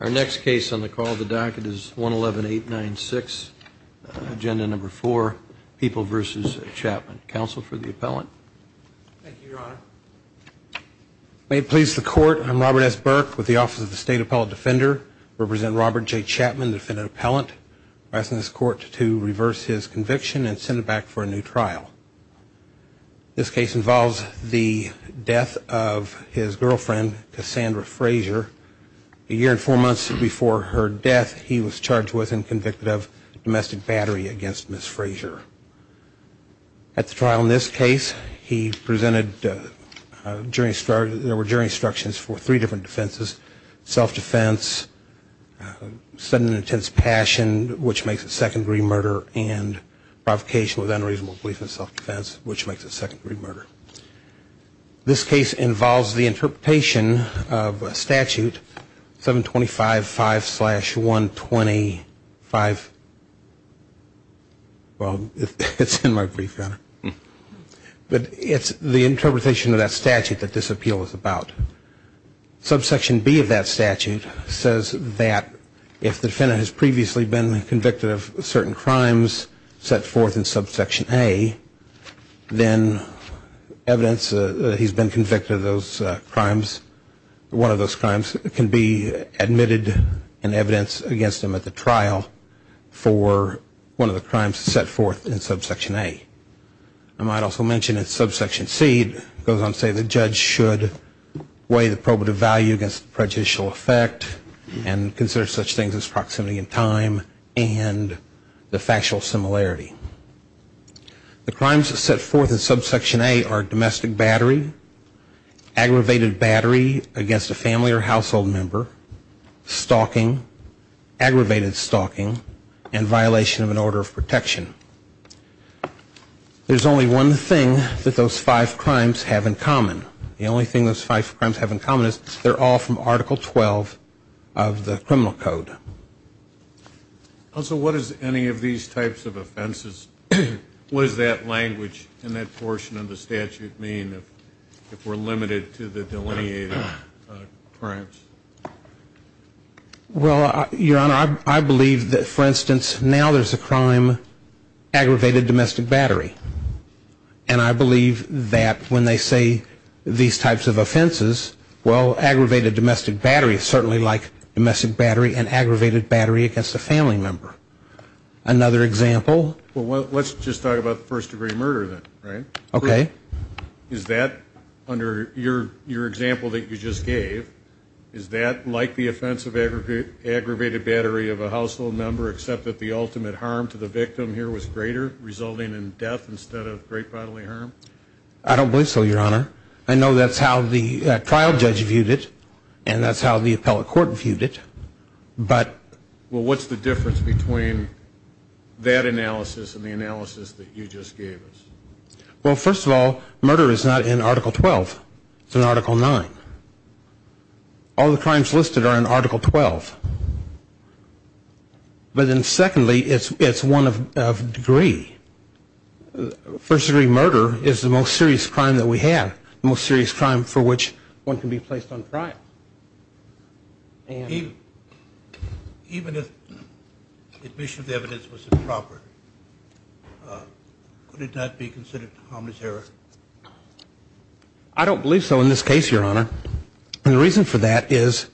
Our next case on the call of the docket is 111-896, Agenda Number 4, People v. Chapman. Counsel for the appellant. Thank you, Your Honor. May it please the Court, I'm Robert S. Burke with the Office of the State Appellate Defender. I represent Robert J. Chapman, the defendant appellant. I'm asking this Court to reverse his conviction and send him back for a new trial. This case involves the death of his girlfriend, Cassandra Frazier. A year and four months before her death, he was charged with and convicted of domestic battery against Ms. Frazier. At the trial in this case, he presented jury instructions for three different defenses, self-defense, sudden and intense passion, which makes it secondary murder, and provocation with unreasonable belief in self-defense, which makes it secondary murder. This case involves the interpretation of a statute, 725-5-125, well, it's in my brief, Your Honor. But it's the interpretation of that statute that this appeal is about. Subsection B of that statute says that if the defendant has previously been convicted of certain crimes set forth in Subsection A, then evidence that he's been convicted of those crimes, one of those crimes, can be admitted in evidence against him at the trial for one of the crimes set forth in Subsection A. I might also mention that Subsection C goes on to say the judge should weigh the probative value against prejudicial effect and consider such things as proximity in time and the factual similarity. The crimes set forth in Subsection A are domestic battery, aggravated battery against a family or household member, stalking, aggravated stalking, and violation of an order of protection. There's only one thing that those five crimes have in common. The only thing those five crimes have in common is they're all from Article 12 of the criminal code. Also, what does any of these types of offenses, what does that language in that portion of the statute mean if we're limited to the delineated crimes? Well, Your Honor, I believe that, for instance, now there's a crime, aggravated domestic battery. And I believe that when they say these types of offenses, well, aggravated domestic battery is certainly like domestic battery and aggravated battery against a family member. Another example. Well, let's just talk about first-degree murder then, right? Okay. Is that, under your example that you just gave, is that like the offense of aggravated battery of a household member except that the ultimate harm to the victim here was greater, resulting in death instead of great bodily harm? I don't believe so, Your Honor. I know that's how the trial judge viewed it, and that's how the appellate court viewed it. Well, what's the difference between that analysis and the analysis that you just gave us? Well, first of all, murder is not in Article 12. It's in Article 9. All the crimes listed are in Article 12. But then secondly, it's one of degree. First-degree murder is the most serious crime that we have, the most serious crime for which one can be placed on trial. Even if admission of the evidence was improper, could it not be considered harmless error? I don't believe so in this case, Your Honor. And the reason for that is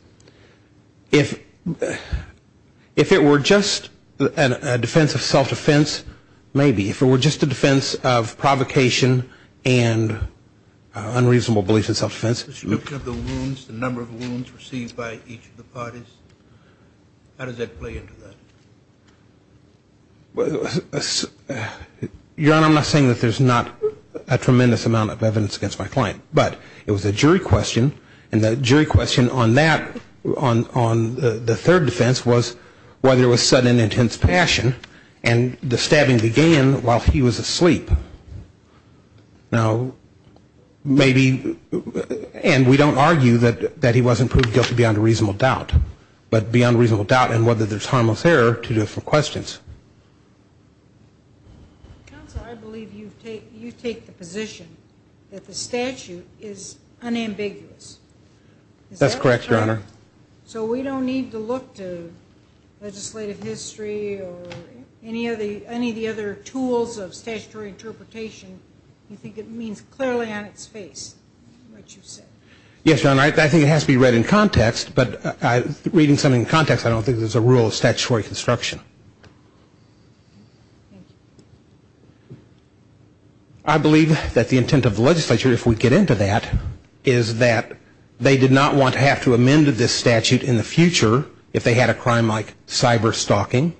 if it were just a defense of self-defense, maybe, if it were just a defense of provocation and unreasonable belief in self-defense. The number of wounds received by each of the parties, how does that play into that? Your Honor, I'm not saying that there's not a tremendous amount of evidence against my client, but it was a jury question, and the jury question on that, on the third defense, was whether it was sudden and intense passion, and the stabbing began while he was asleep. Now, maybe, and we don't argue that he wasn't proved guilty beyond a reasonable doubt, but beyond a reasonable doubt and whether there's harmless error to different questions. Counsel, I believe you take the position that the statute is unambiguous. That's correct, Your Honor. So we don't need to look to legislative history or any of the other tools of statutory interpretation. You think it means clearly on its face what you said. Yes, Your Honor, I think it has to be read in context, but reading something in context, I don't think there's a rule of statutory construction. I believe that the intent of the legislature, if we get into that, is that they did not want to have to amend this statute in the future if they had a crime like cyber-stalking,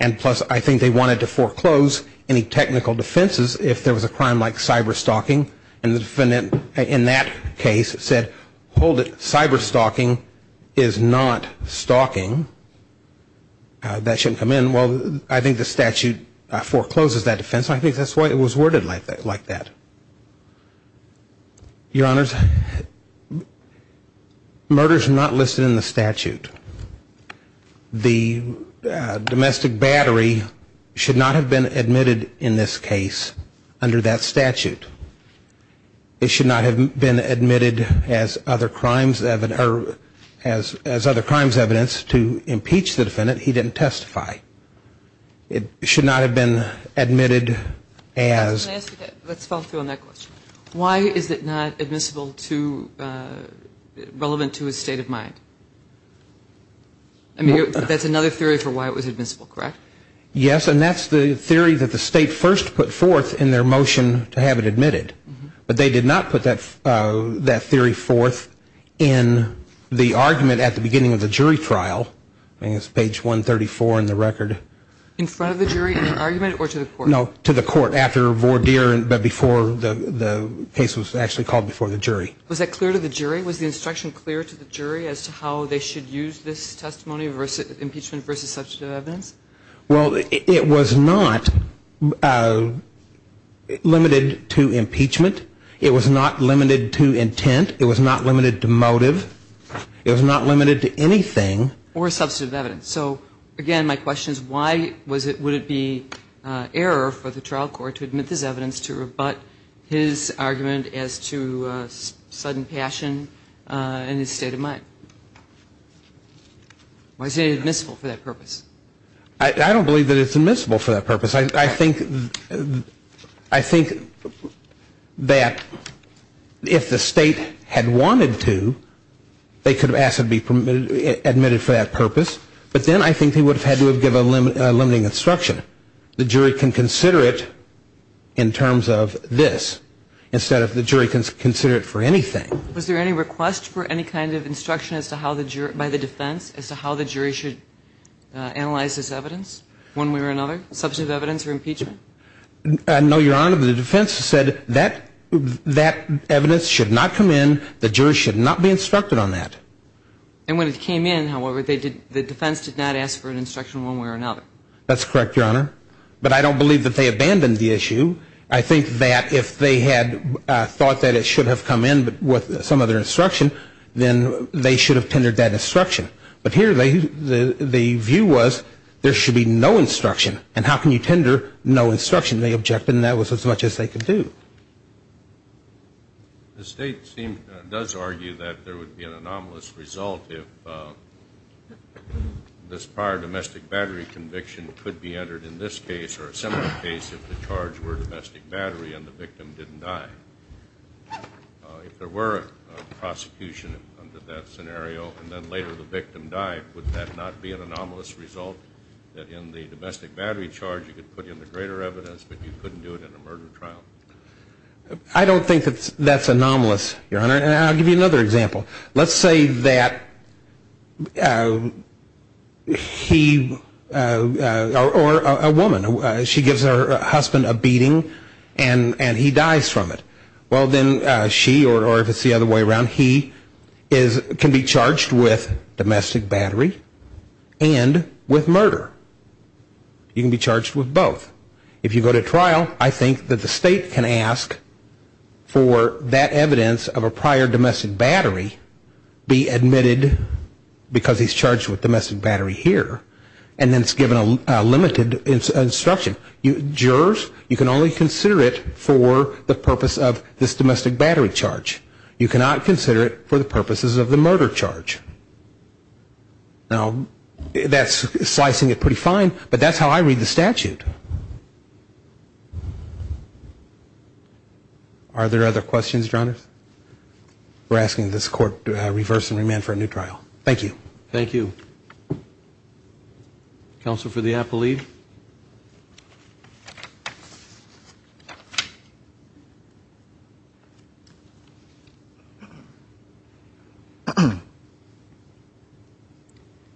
and plus I think they wanted to foreclose any technical defenses if there was a crime like cyber-stalking, and the defendant in that case said, hold it, cyber-stalking is not stalking. That shouldn't come in. Well, I think the statute forecloses that defense. I think that's why it was worded like that. Your Honors, murders are not listed in the statute. The domestic battery should not have been admitted in this case under that statute. It should not have been admitted as other crimes evidence to impeach the defendant. He didn't testify. It should not have been admitted as. Let's follow through on that question. Why is it not admissible to, relevant to his state of mind? I mean, that's another theory for why it was admissible, correct? Yes, and that's the theory that the state first put forth in their motion to have it admitted, but they did not put that theory forth in the argument at the beginning of the jury trial. I think it's page 134 in the record. In front of the jury in an argument or to the court? No, to the court after voir dire, but before the case was actually called before the jury. Was that clear to the jury? Was the instruction clear to the jury as to how they should use this testimony, impeachment versus substantive evidence? Well, it was not limited to impeachment. It was not limited to intent. It was not limited to motive. It was not limited to anything. Or substantive evidence. So, again, my question is why was it, would it be error for the trial court to admit this evidence to rebut his argument as to sudden passion in his state of mind? Why is it admissible for that purpose? I don't believe that it's admissible for that purpose. I think that if the State had wanted to, they could have asked it to be admitted for that purpose. But then I think they would have had to have given a limiting instruction. The jury can consider it in terms of this instead of the jury can consider it for anything. Was there any request for any kind of instruction by the defense as to how the jury should analyze this evidence one way or another, substantive evidence or impeachment? No, Your Honor. The defense said that evidence should not come in. The jury should not be instructed on that. And when it came in, however, the defense did not ask for an instruction one way or another. That's correct, Your Honor. But I don't believe that they abandoned the issue. I think that if they had thought that it should have come in with some other instruction, then they should have tendered that instruction. But here the view was there should be no instruction. And how can you tender no instruction? They objected, and that was as much as they could do. The State does argue that there would be an anomalous result if this prior domestic battery conviction could be entered in this case or a similar case if the charge were domestic battery and the victim didn't die. If there were a prosecution under that scenario and then later the victim died, would that not be an anomalous result that in the domestic battery charge you could put in the greater evidence but you couldn't do it in a murder trial? I don't think that that's anomalous, Your Honor. And I'll give you another example. Let's say that he or a woman, she gives her husband a beating and he dies from it. Well, then she or if it's the other way around, he can be charged with domestic battery and with murder. He can be charged with both. If you go to trial, I think that the State can ask for that evidence of a prior domestic battery be admitted because he's charged with domestic battery here and then it's given a limited instruction. Jurors, you can only consider it for the purpose of this domestic battery charge. You cannot consider it for the purposes of the murder charge. Now, that's slicing it pretty fine, but that's how I read the statute. Are there other questions, Your Honor? We're asking this Court to reverse and remand for a new trial. Thank you. Thank you. Counsel for the apple leave.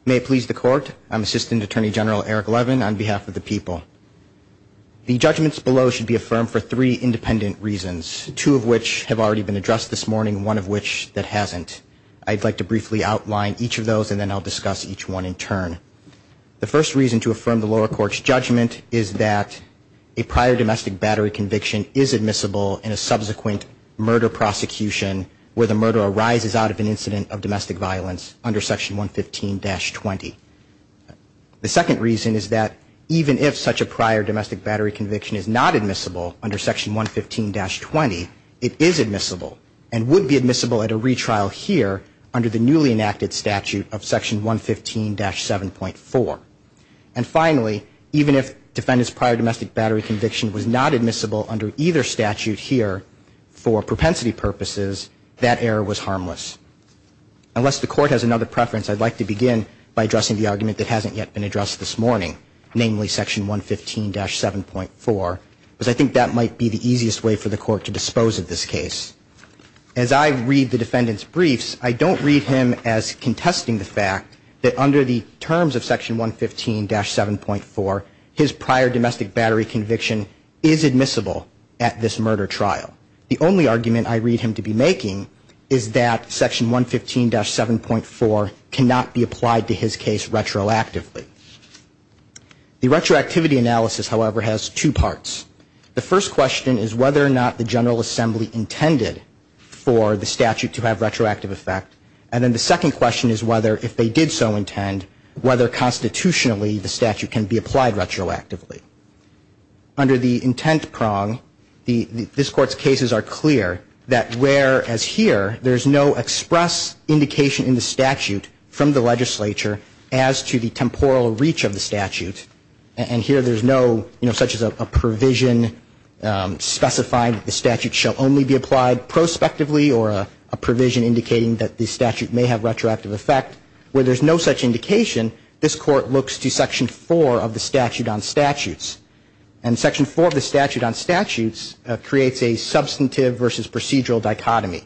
May it please the Court, I'm Assistant Attorney General Eric Levin on behalf of the people. The judgments below should be affirmed for three independent reasons, two of which have already been addressed this morning, one of which that hasn't. I'd like to briefly outline each of those and then I'll discuss each one in turn. The first reason to affirm the lower court's judgment is that a prior domestic battery conviction is admissible in a subsequent murder prosecution where the murder arises out of an incident of domestic violence under Section 115-20. The second reason is that even if such a prior domestic battery conviction is not admissible under Section 115-20, it is admissible and would be admissible at a retrial here under the newly enacted statute of Section 115-7.4. And finally, even if defendant's prior domestic battery conviction was not admissible under either statute here, for propensity purposes, that error was harmless. Unless the Court has another preference, I'd like to begin by addressing the argument that hasn't yet been addressed this morning, namely Section 115-7.4, because I think that might be the easiest way for the Court to dispose of this case. As I read the defendant's briefs, I don't read him as contesting the fact that under the terms of Section 115-7.4, his prior domestic battery conviction is admissible at this murder trial. The only argument I read him to be making is that Section 115-7.4 cannot be applied to his case retroactively. The retroactivity analysis, however, has two parts. The first question is whether or not the General Assembly intended for the statute to have retroactive effect, and then the second question is whether, if they did so intend, whether constitutionally the statute can be applied retroactively. Under the intent prong, this Court's cases are clear that whereas here there's no express indication in the statute from the legislature as to the temporal reach of the statute, and here there's no, you know, such as a provision specifying the statute shall only be applied prospectively or a provision indicating that the statute may have retroactive effect, where there's no such indication, this Court looks to Section 4 of the Statute on Statutes. And Section 4 of the Statute on Statutes creates a substantive versus procedural dichotomy.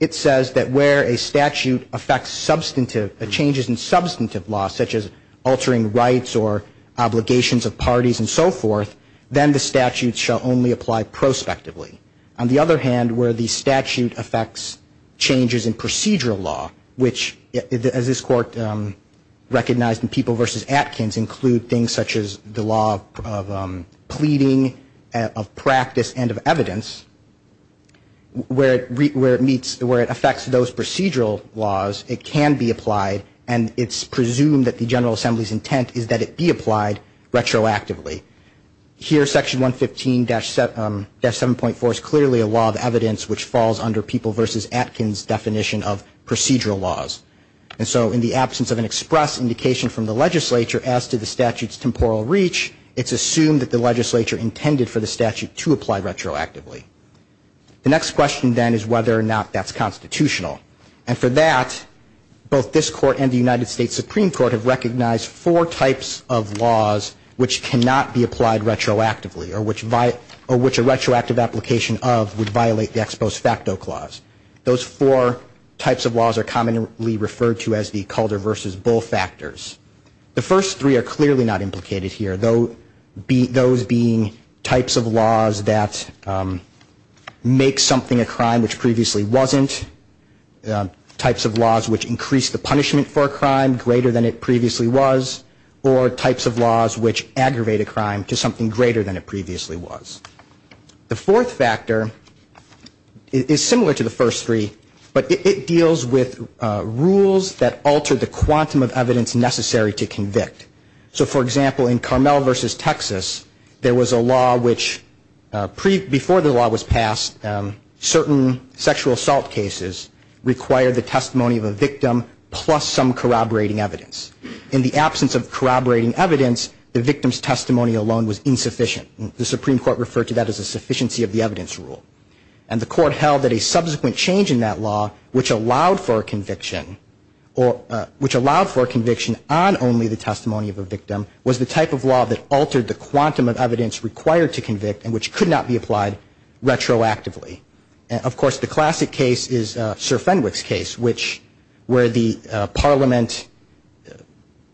It says that where a statute affects substantive changes in substantive law, such as altering rights or obligations of parties and so forth, then the statute shall only apply prospectively. On the other hand, where the statute affects changes in procedural law, which as this Court recognized in People v. Atkins include things such as the law of pleading, of practice, and of evidence, where it meets, where it affects those procedural laws, it can be applied and it's presumed that the General Assembly's intent is that it be applied retroactively. Here Section 115-7.4 is clearly a law of evidence which falls under People v. Atkins' definition of procedural laws. And so in the absence of an express indication from the legislature as to the statute's temporal reach, it's assumed that the legislature intended for the statute to apply retroactively. The next question then is whether or not that's constitutional. And for that, both this Court and the United States Supreme Court have recognized four types of laws which cannot be applied retroactively or which a retroactive application of would violate the Ex Post Facto Clause. Those four types of laws are commonly referred to as the Calder v. Bull factors. The first three are clearly not implicated here, those being types of laws that make something a crime which previously wasn't, types of laws which increase the punishment for a crime greater than it previously was, or types of laws which aggravate a crime to something greater than it previously was. The fourth factor is similar to the first three, but it deals with rules that alter the quantum of evidence necessary to convict. So for example, in Carmel v. Texas, there was a law which, before the law was passed, certain sexual assault cases required the testimony of a victim plus some corroborating evidence. In the absence of corroborating evidence, the victim's testimony alone was insufficient. The Supreme Court referred to that as a sufficiency of the evidence rule. And the Court held that a subsequent change in that law which allowed for a conviction on only the testimony of a victim was the type of law that altered the quantum of evidence required to convict and which could not be applied retroactively. Of course, the classic case is Sir Fenwick's case, where the Parliament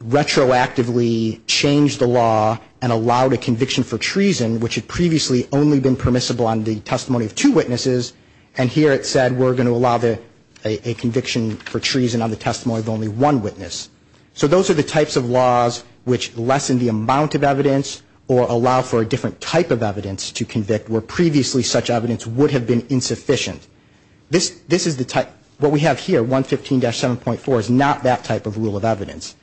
retroactively changed the law and allowed a conviction for treason which had previously only been permissible on the testimony of two witnesses, and here it said we're going to allow a conviction for treason on the testimony of only one witness. So those are the types of laws which lessen the amount of evidence or allow for a different type of evidence to convict where previously such evidence would have been insufficient. What we have here, 115-7.4, is not that type of rule of evidence.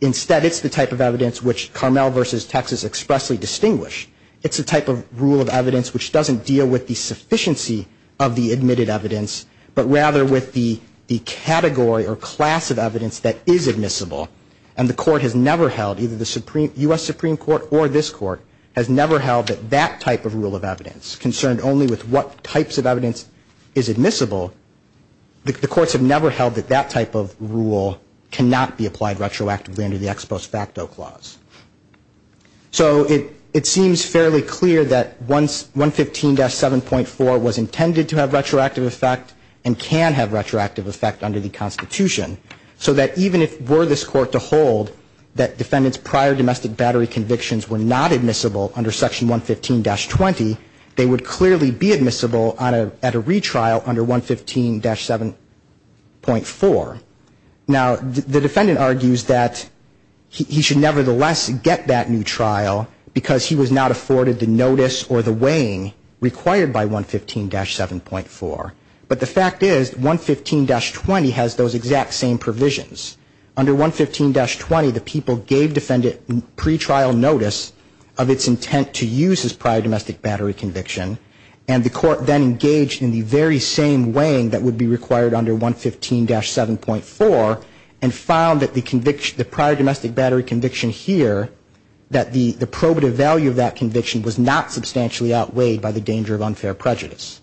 Instead, it's the type of evidence which Carmel v. Texas expressly distinguished. It's the type of rule of evidence which doesn't deal with the sufficiency of the admitted evidence, but rather with the category or class of evidence that is admissible. And the Court has never held, either the U.S. Supreme Court or this Court, has never held that that type of rule of evidence, concerned only with what types of evidence is admissible, the courts have never held that that type of rule cannot be applied retroactively under the Ex Post Facto Clause. So it seems fairly clear that 115-7.4 was intended to have retroactive effect and can have retroactive effect under the Constitution, so that even if were this Court to hold that defendants' prior domestic battery convictions were not admissible under Section 115-20, they would clearly be admissible at a retrial under 115-7.4. Now, the defendant argues that he should nevertheless get that new trial because he was not afforded the notice or the weighing required by 115-7.4. But the fact is 115-20 has those exact same provisions. Under 115-20, the people gave defendant pretrial notice of its intent to use his prior domestic battery conviction, and the Court then engaged in the very same weighing that would be required under 115-7.4 and found that the prior domestic battery conviction here, that the probative value of that conviction was not substantially outweighed by the danger of unfair prejudice.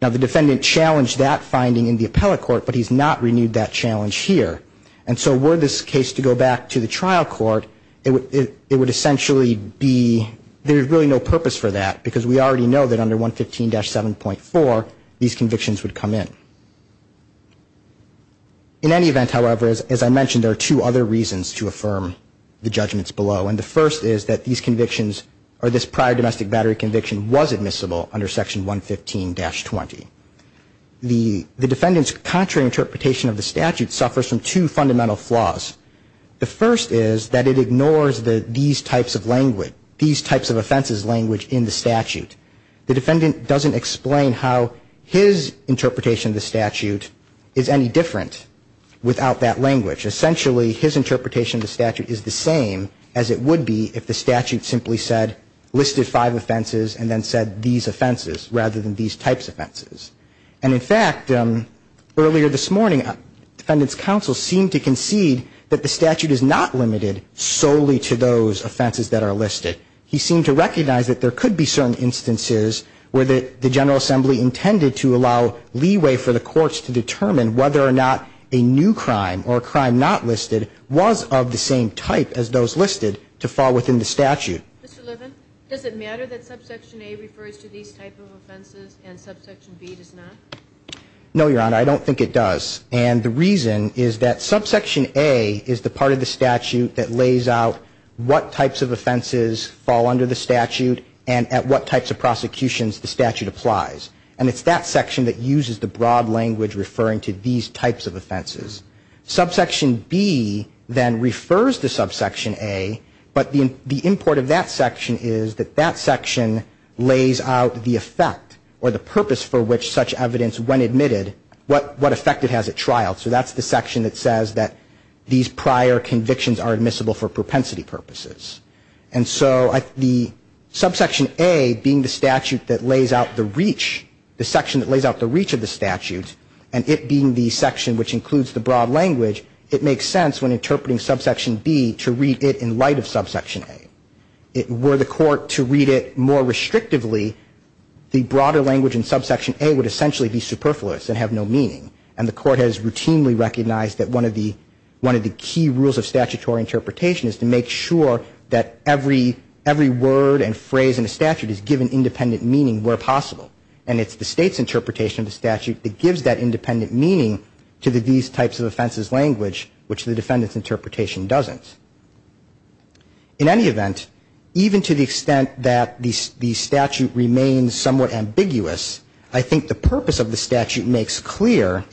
Now, the defendant challenged that finding in the appellate court, but he's not renewed that challenge here. And so were this case to go back to the trial court, it would essentially be there's really no purpose for that because we already know that under 115-7.4 these convictions would come in. In any event, however, as I mentioned, there are two other reasons to affirm the judgments below. And the first is that these convictions or this prior domestic battery conviction was admissible under Section 115-20. The defendant's contrary interpretation of the statute suffers from two fundamental flaws. The first is that it ignores these types of language, these types of offenses language in the statute. The defendant doesn't explain how his interpretation of the statute is any different without that language. Essentially, his interpretation of the statute is the same as it would be if the statute simply said listed five offenses and then said these offenses rather than these types of offenses. And in fact, earlier this morning, defendant's counsel seemed to concede that the statute is not limited solely to those offenses that are listed. He seemed to recognize that there could be certain instances where the General Assembly intended to allow leeway for the courts to determine whether or not a new crime or a crime not listed was of the same type as those listed to fall within the statute. Mr. Levin, does it matter that Subsection A refers to these types of offenses and Subsection B does not? No, Your Honor, I don't think it does. And the reason is that Subsection A is the part of the statute that lays out what types of offenses fall under the statute and at what types of prosecutions the statute applies. And it's that section that uses the broad language referring to these types of offenses. Subsection B then refers to Subsection A, but the import of that section is that that section lays out the effect or the purpose for which such evidence, when admitted, what effect it has at trial. So that's the section that says that these prior convictions are admissible for propensity purposes. And so the Subsection A being the statute that lays out the reach, the section that lays out the reach of the statute, and it being the section which includes the broad language, it makes sense when interpreting Subsection B to read it in light of Subsection A. Were the court to read it more restrictively, the broader language in Subsection A would essentially be superfluous and have no meaning, and the court has routinely recognized that one of the key rules of statutory interpretation is to make sure that every word and phrase in a statute is given independent meaning where possible. And it's the State's interpretation of the statute that gives that independent meaning to these types of offenses language, which the defendant's interpretation doesn't. In any event, even to the extent that the statute remains somewhat ambiguous, I think the purpose of the statute makes clear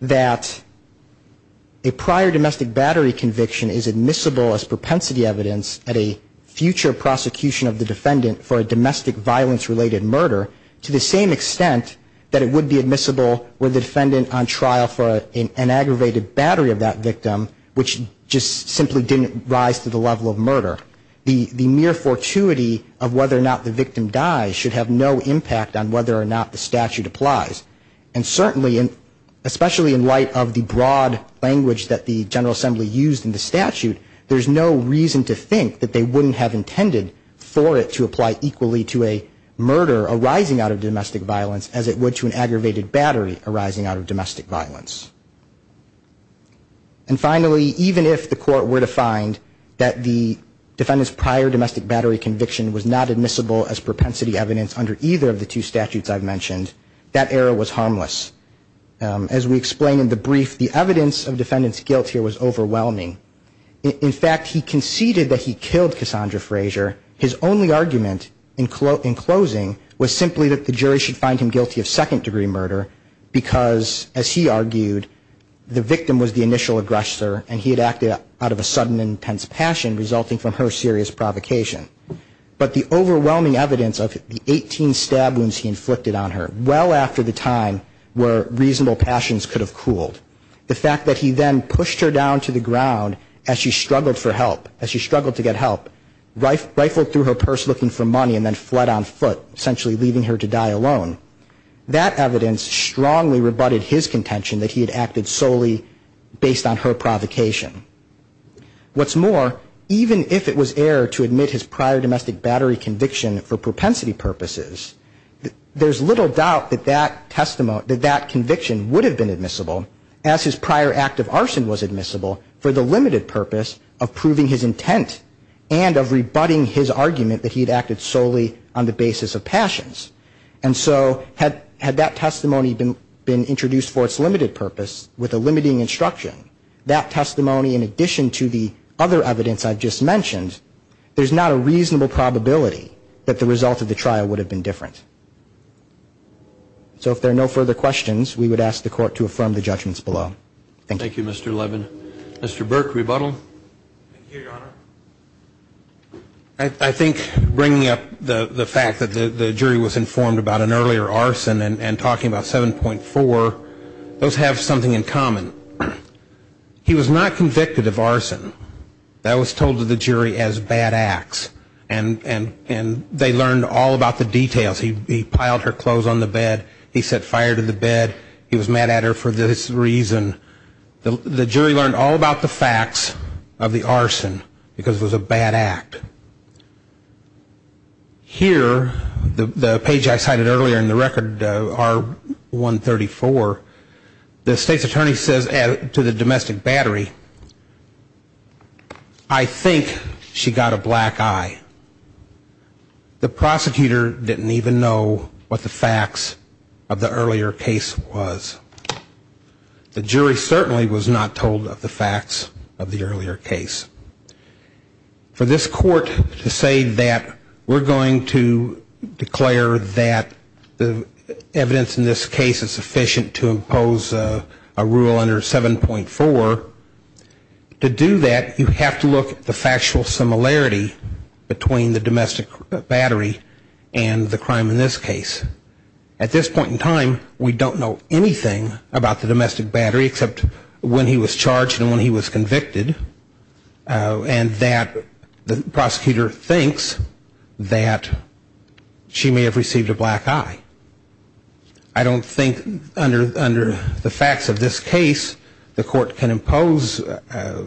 that a prior domestic battery conviction is admissible as propensity evidence at a future prosecution of the defendant for a domestic violence-related murder to the same extent that it would be admissible were the defendant on trial for an aggravated battery of that victim, which just simply didn't rise to the level of murder. The mere fortuity of whether or not the victim dies should have no impact on whether or not the statute applies. And certainly, especially in light of the broad language that the General Assembly used in the statute, there's no reason to think that they wouldn't have intended for it to apply equally to a murder arising out of domestic violence as it would to an aggravated battery arising out of domestic violence. And finally, even if the court were to find that the defendant's prior domestic battery conviction was not admissible as propensity evidence under either of the two statutes I've mentioned, that error was harmless. As we explain in the brief, the evidence of defendant's guilt here was overwhelming. In fact, he conceded that he killed Cassandra Frazier. His only argument in closing was simply that the jury should find him guilty of second-degree murder, because, as he argued, the victim was the initial aggressor, and he had acted out of a sudden intense passion resulting from her serious provocation. But the overwhelming evidence of the 18 stab wounds he inflicted on her, well after the time where reasonable passions could have cooled, the fact that he then pushed her down to the ground as she struggled for help, as she struggled to get help, rifled through her purse looking for money and then fled on foot, essentially leaving her to die alone, that evidence strongly rebutted his contention that he had acted solely based on her provocation. What's more, even if it was error to admit his prior domestic battery conviction for propensity purposes, there's little doubt that that conviction would have been admissible, as his prior act of arson was admissible for the limited purpose of proving his intent and of rebutting his argument that he had acted solely on the basis of passions. And so had that testimony been introduced for its limited purpose with a limiting instruction, that testimony in addition to the other evidence I've just mentioned, there's not a reasonable probability that the result of the trial would have been different. So if there are no further questions, we would ask the Court to affirm the judgments below. Thank you. Thank you, Mr. Levin. Mr. Burke, rebuttal. Thank you, Your Honor. I think bringing up the fact that the jury was informed about an earlier arson and talking about 7.4, those have something in common. He was not convicted of arson. That was told to the jury as bad acts. And they learned all about the details. He piled her clothes on the bed, he set fire to the bed, he was mad at her for this reason. The jury learned all about the facts of the arson because it was a bad act. Here, the page I cited earlier in the record, R134, the State's attorney says to the domestic battery, I think she got a black eye. The prosecutor didn't even know what the facts of the earlier case was. The jury certainly was not told of the facts of the earlier case. For this Court to say that we're going to declare that the evidence in this case is sufficient to impose a rule under 7.4, to do that, you have to look at the factual similarity between the domestic battery and the crime in this case. At this point in time, we don't know anything about the domestic battery, except when he was charged and when he was convicted, and that the prosecutor thinks that she may have received a black eye. I don't think under the facts of this case, the Court can impose a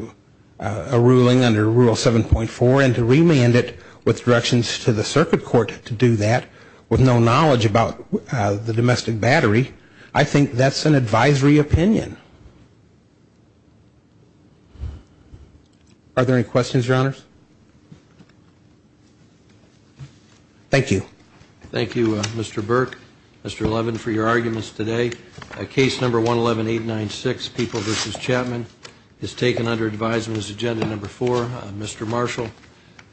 ruling under Rule 7.4 and to remand it with directions to the circuit court to do that, with no knowledge about the domestic battery. I think that's an advisory opinion. Are there any questions, Your Honors? Thank you. Thank you, Mr. Burke, Mr. Levin, for your arguments today. Case number 111896, People v. Chapman, is taken under advisement as agenda number four. Mr. Marshall,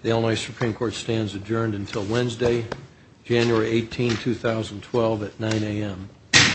the Illinois Supreme Court stands adjourned until Wednesday, January 18, 2012, at 9 a.m.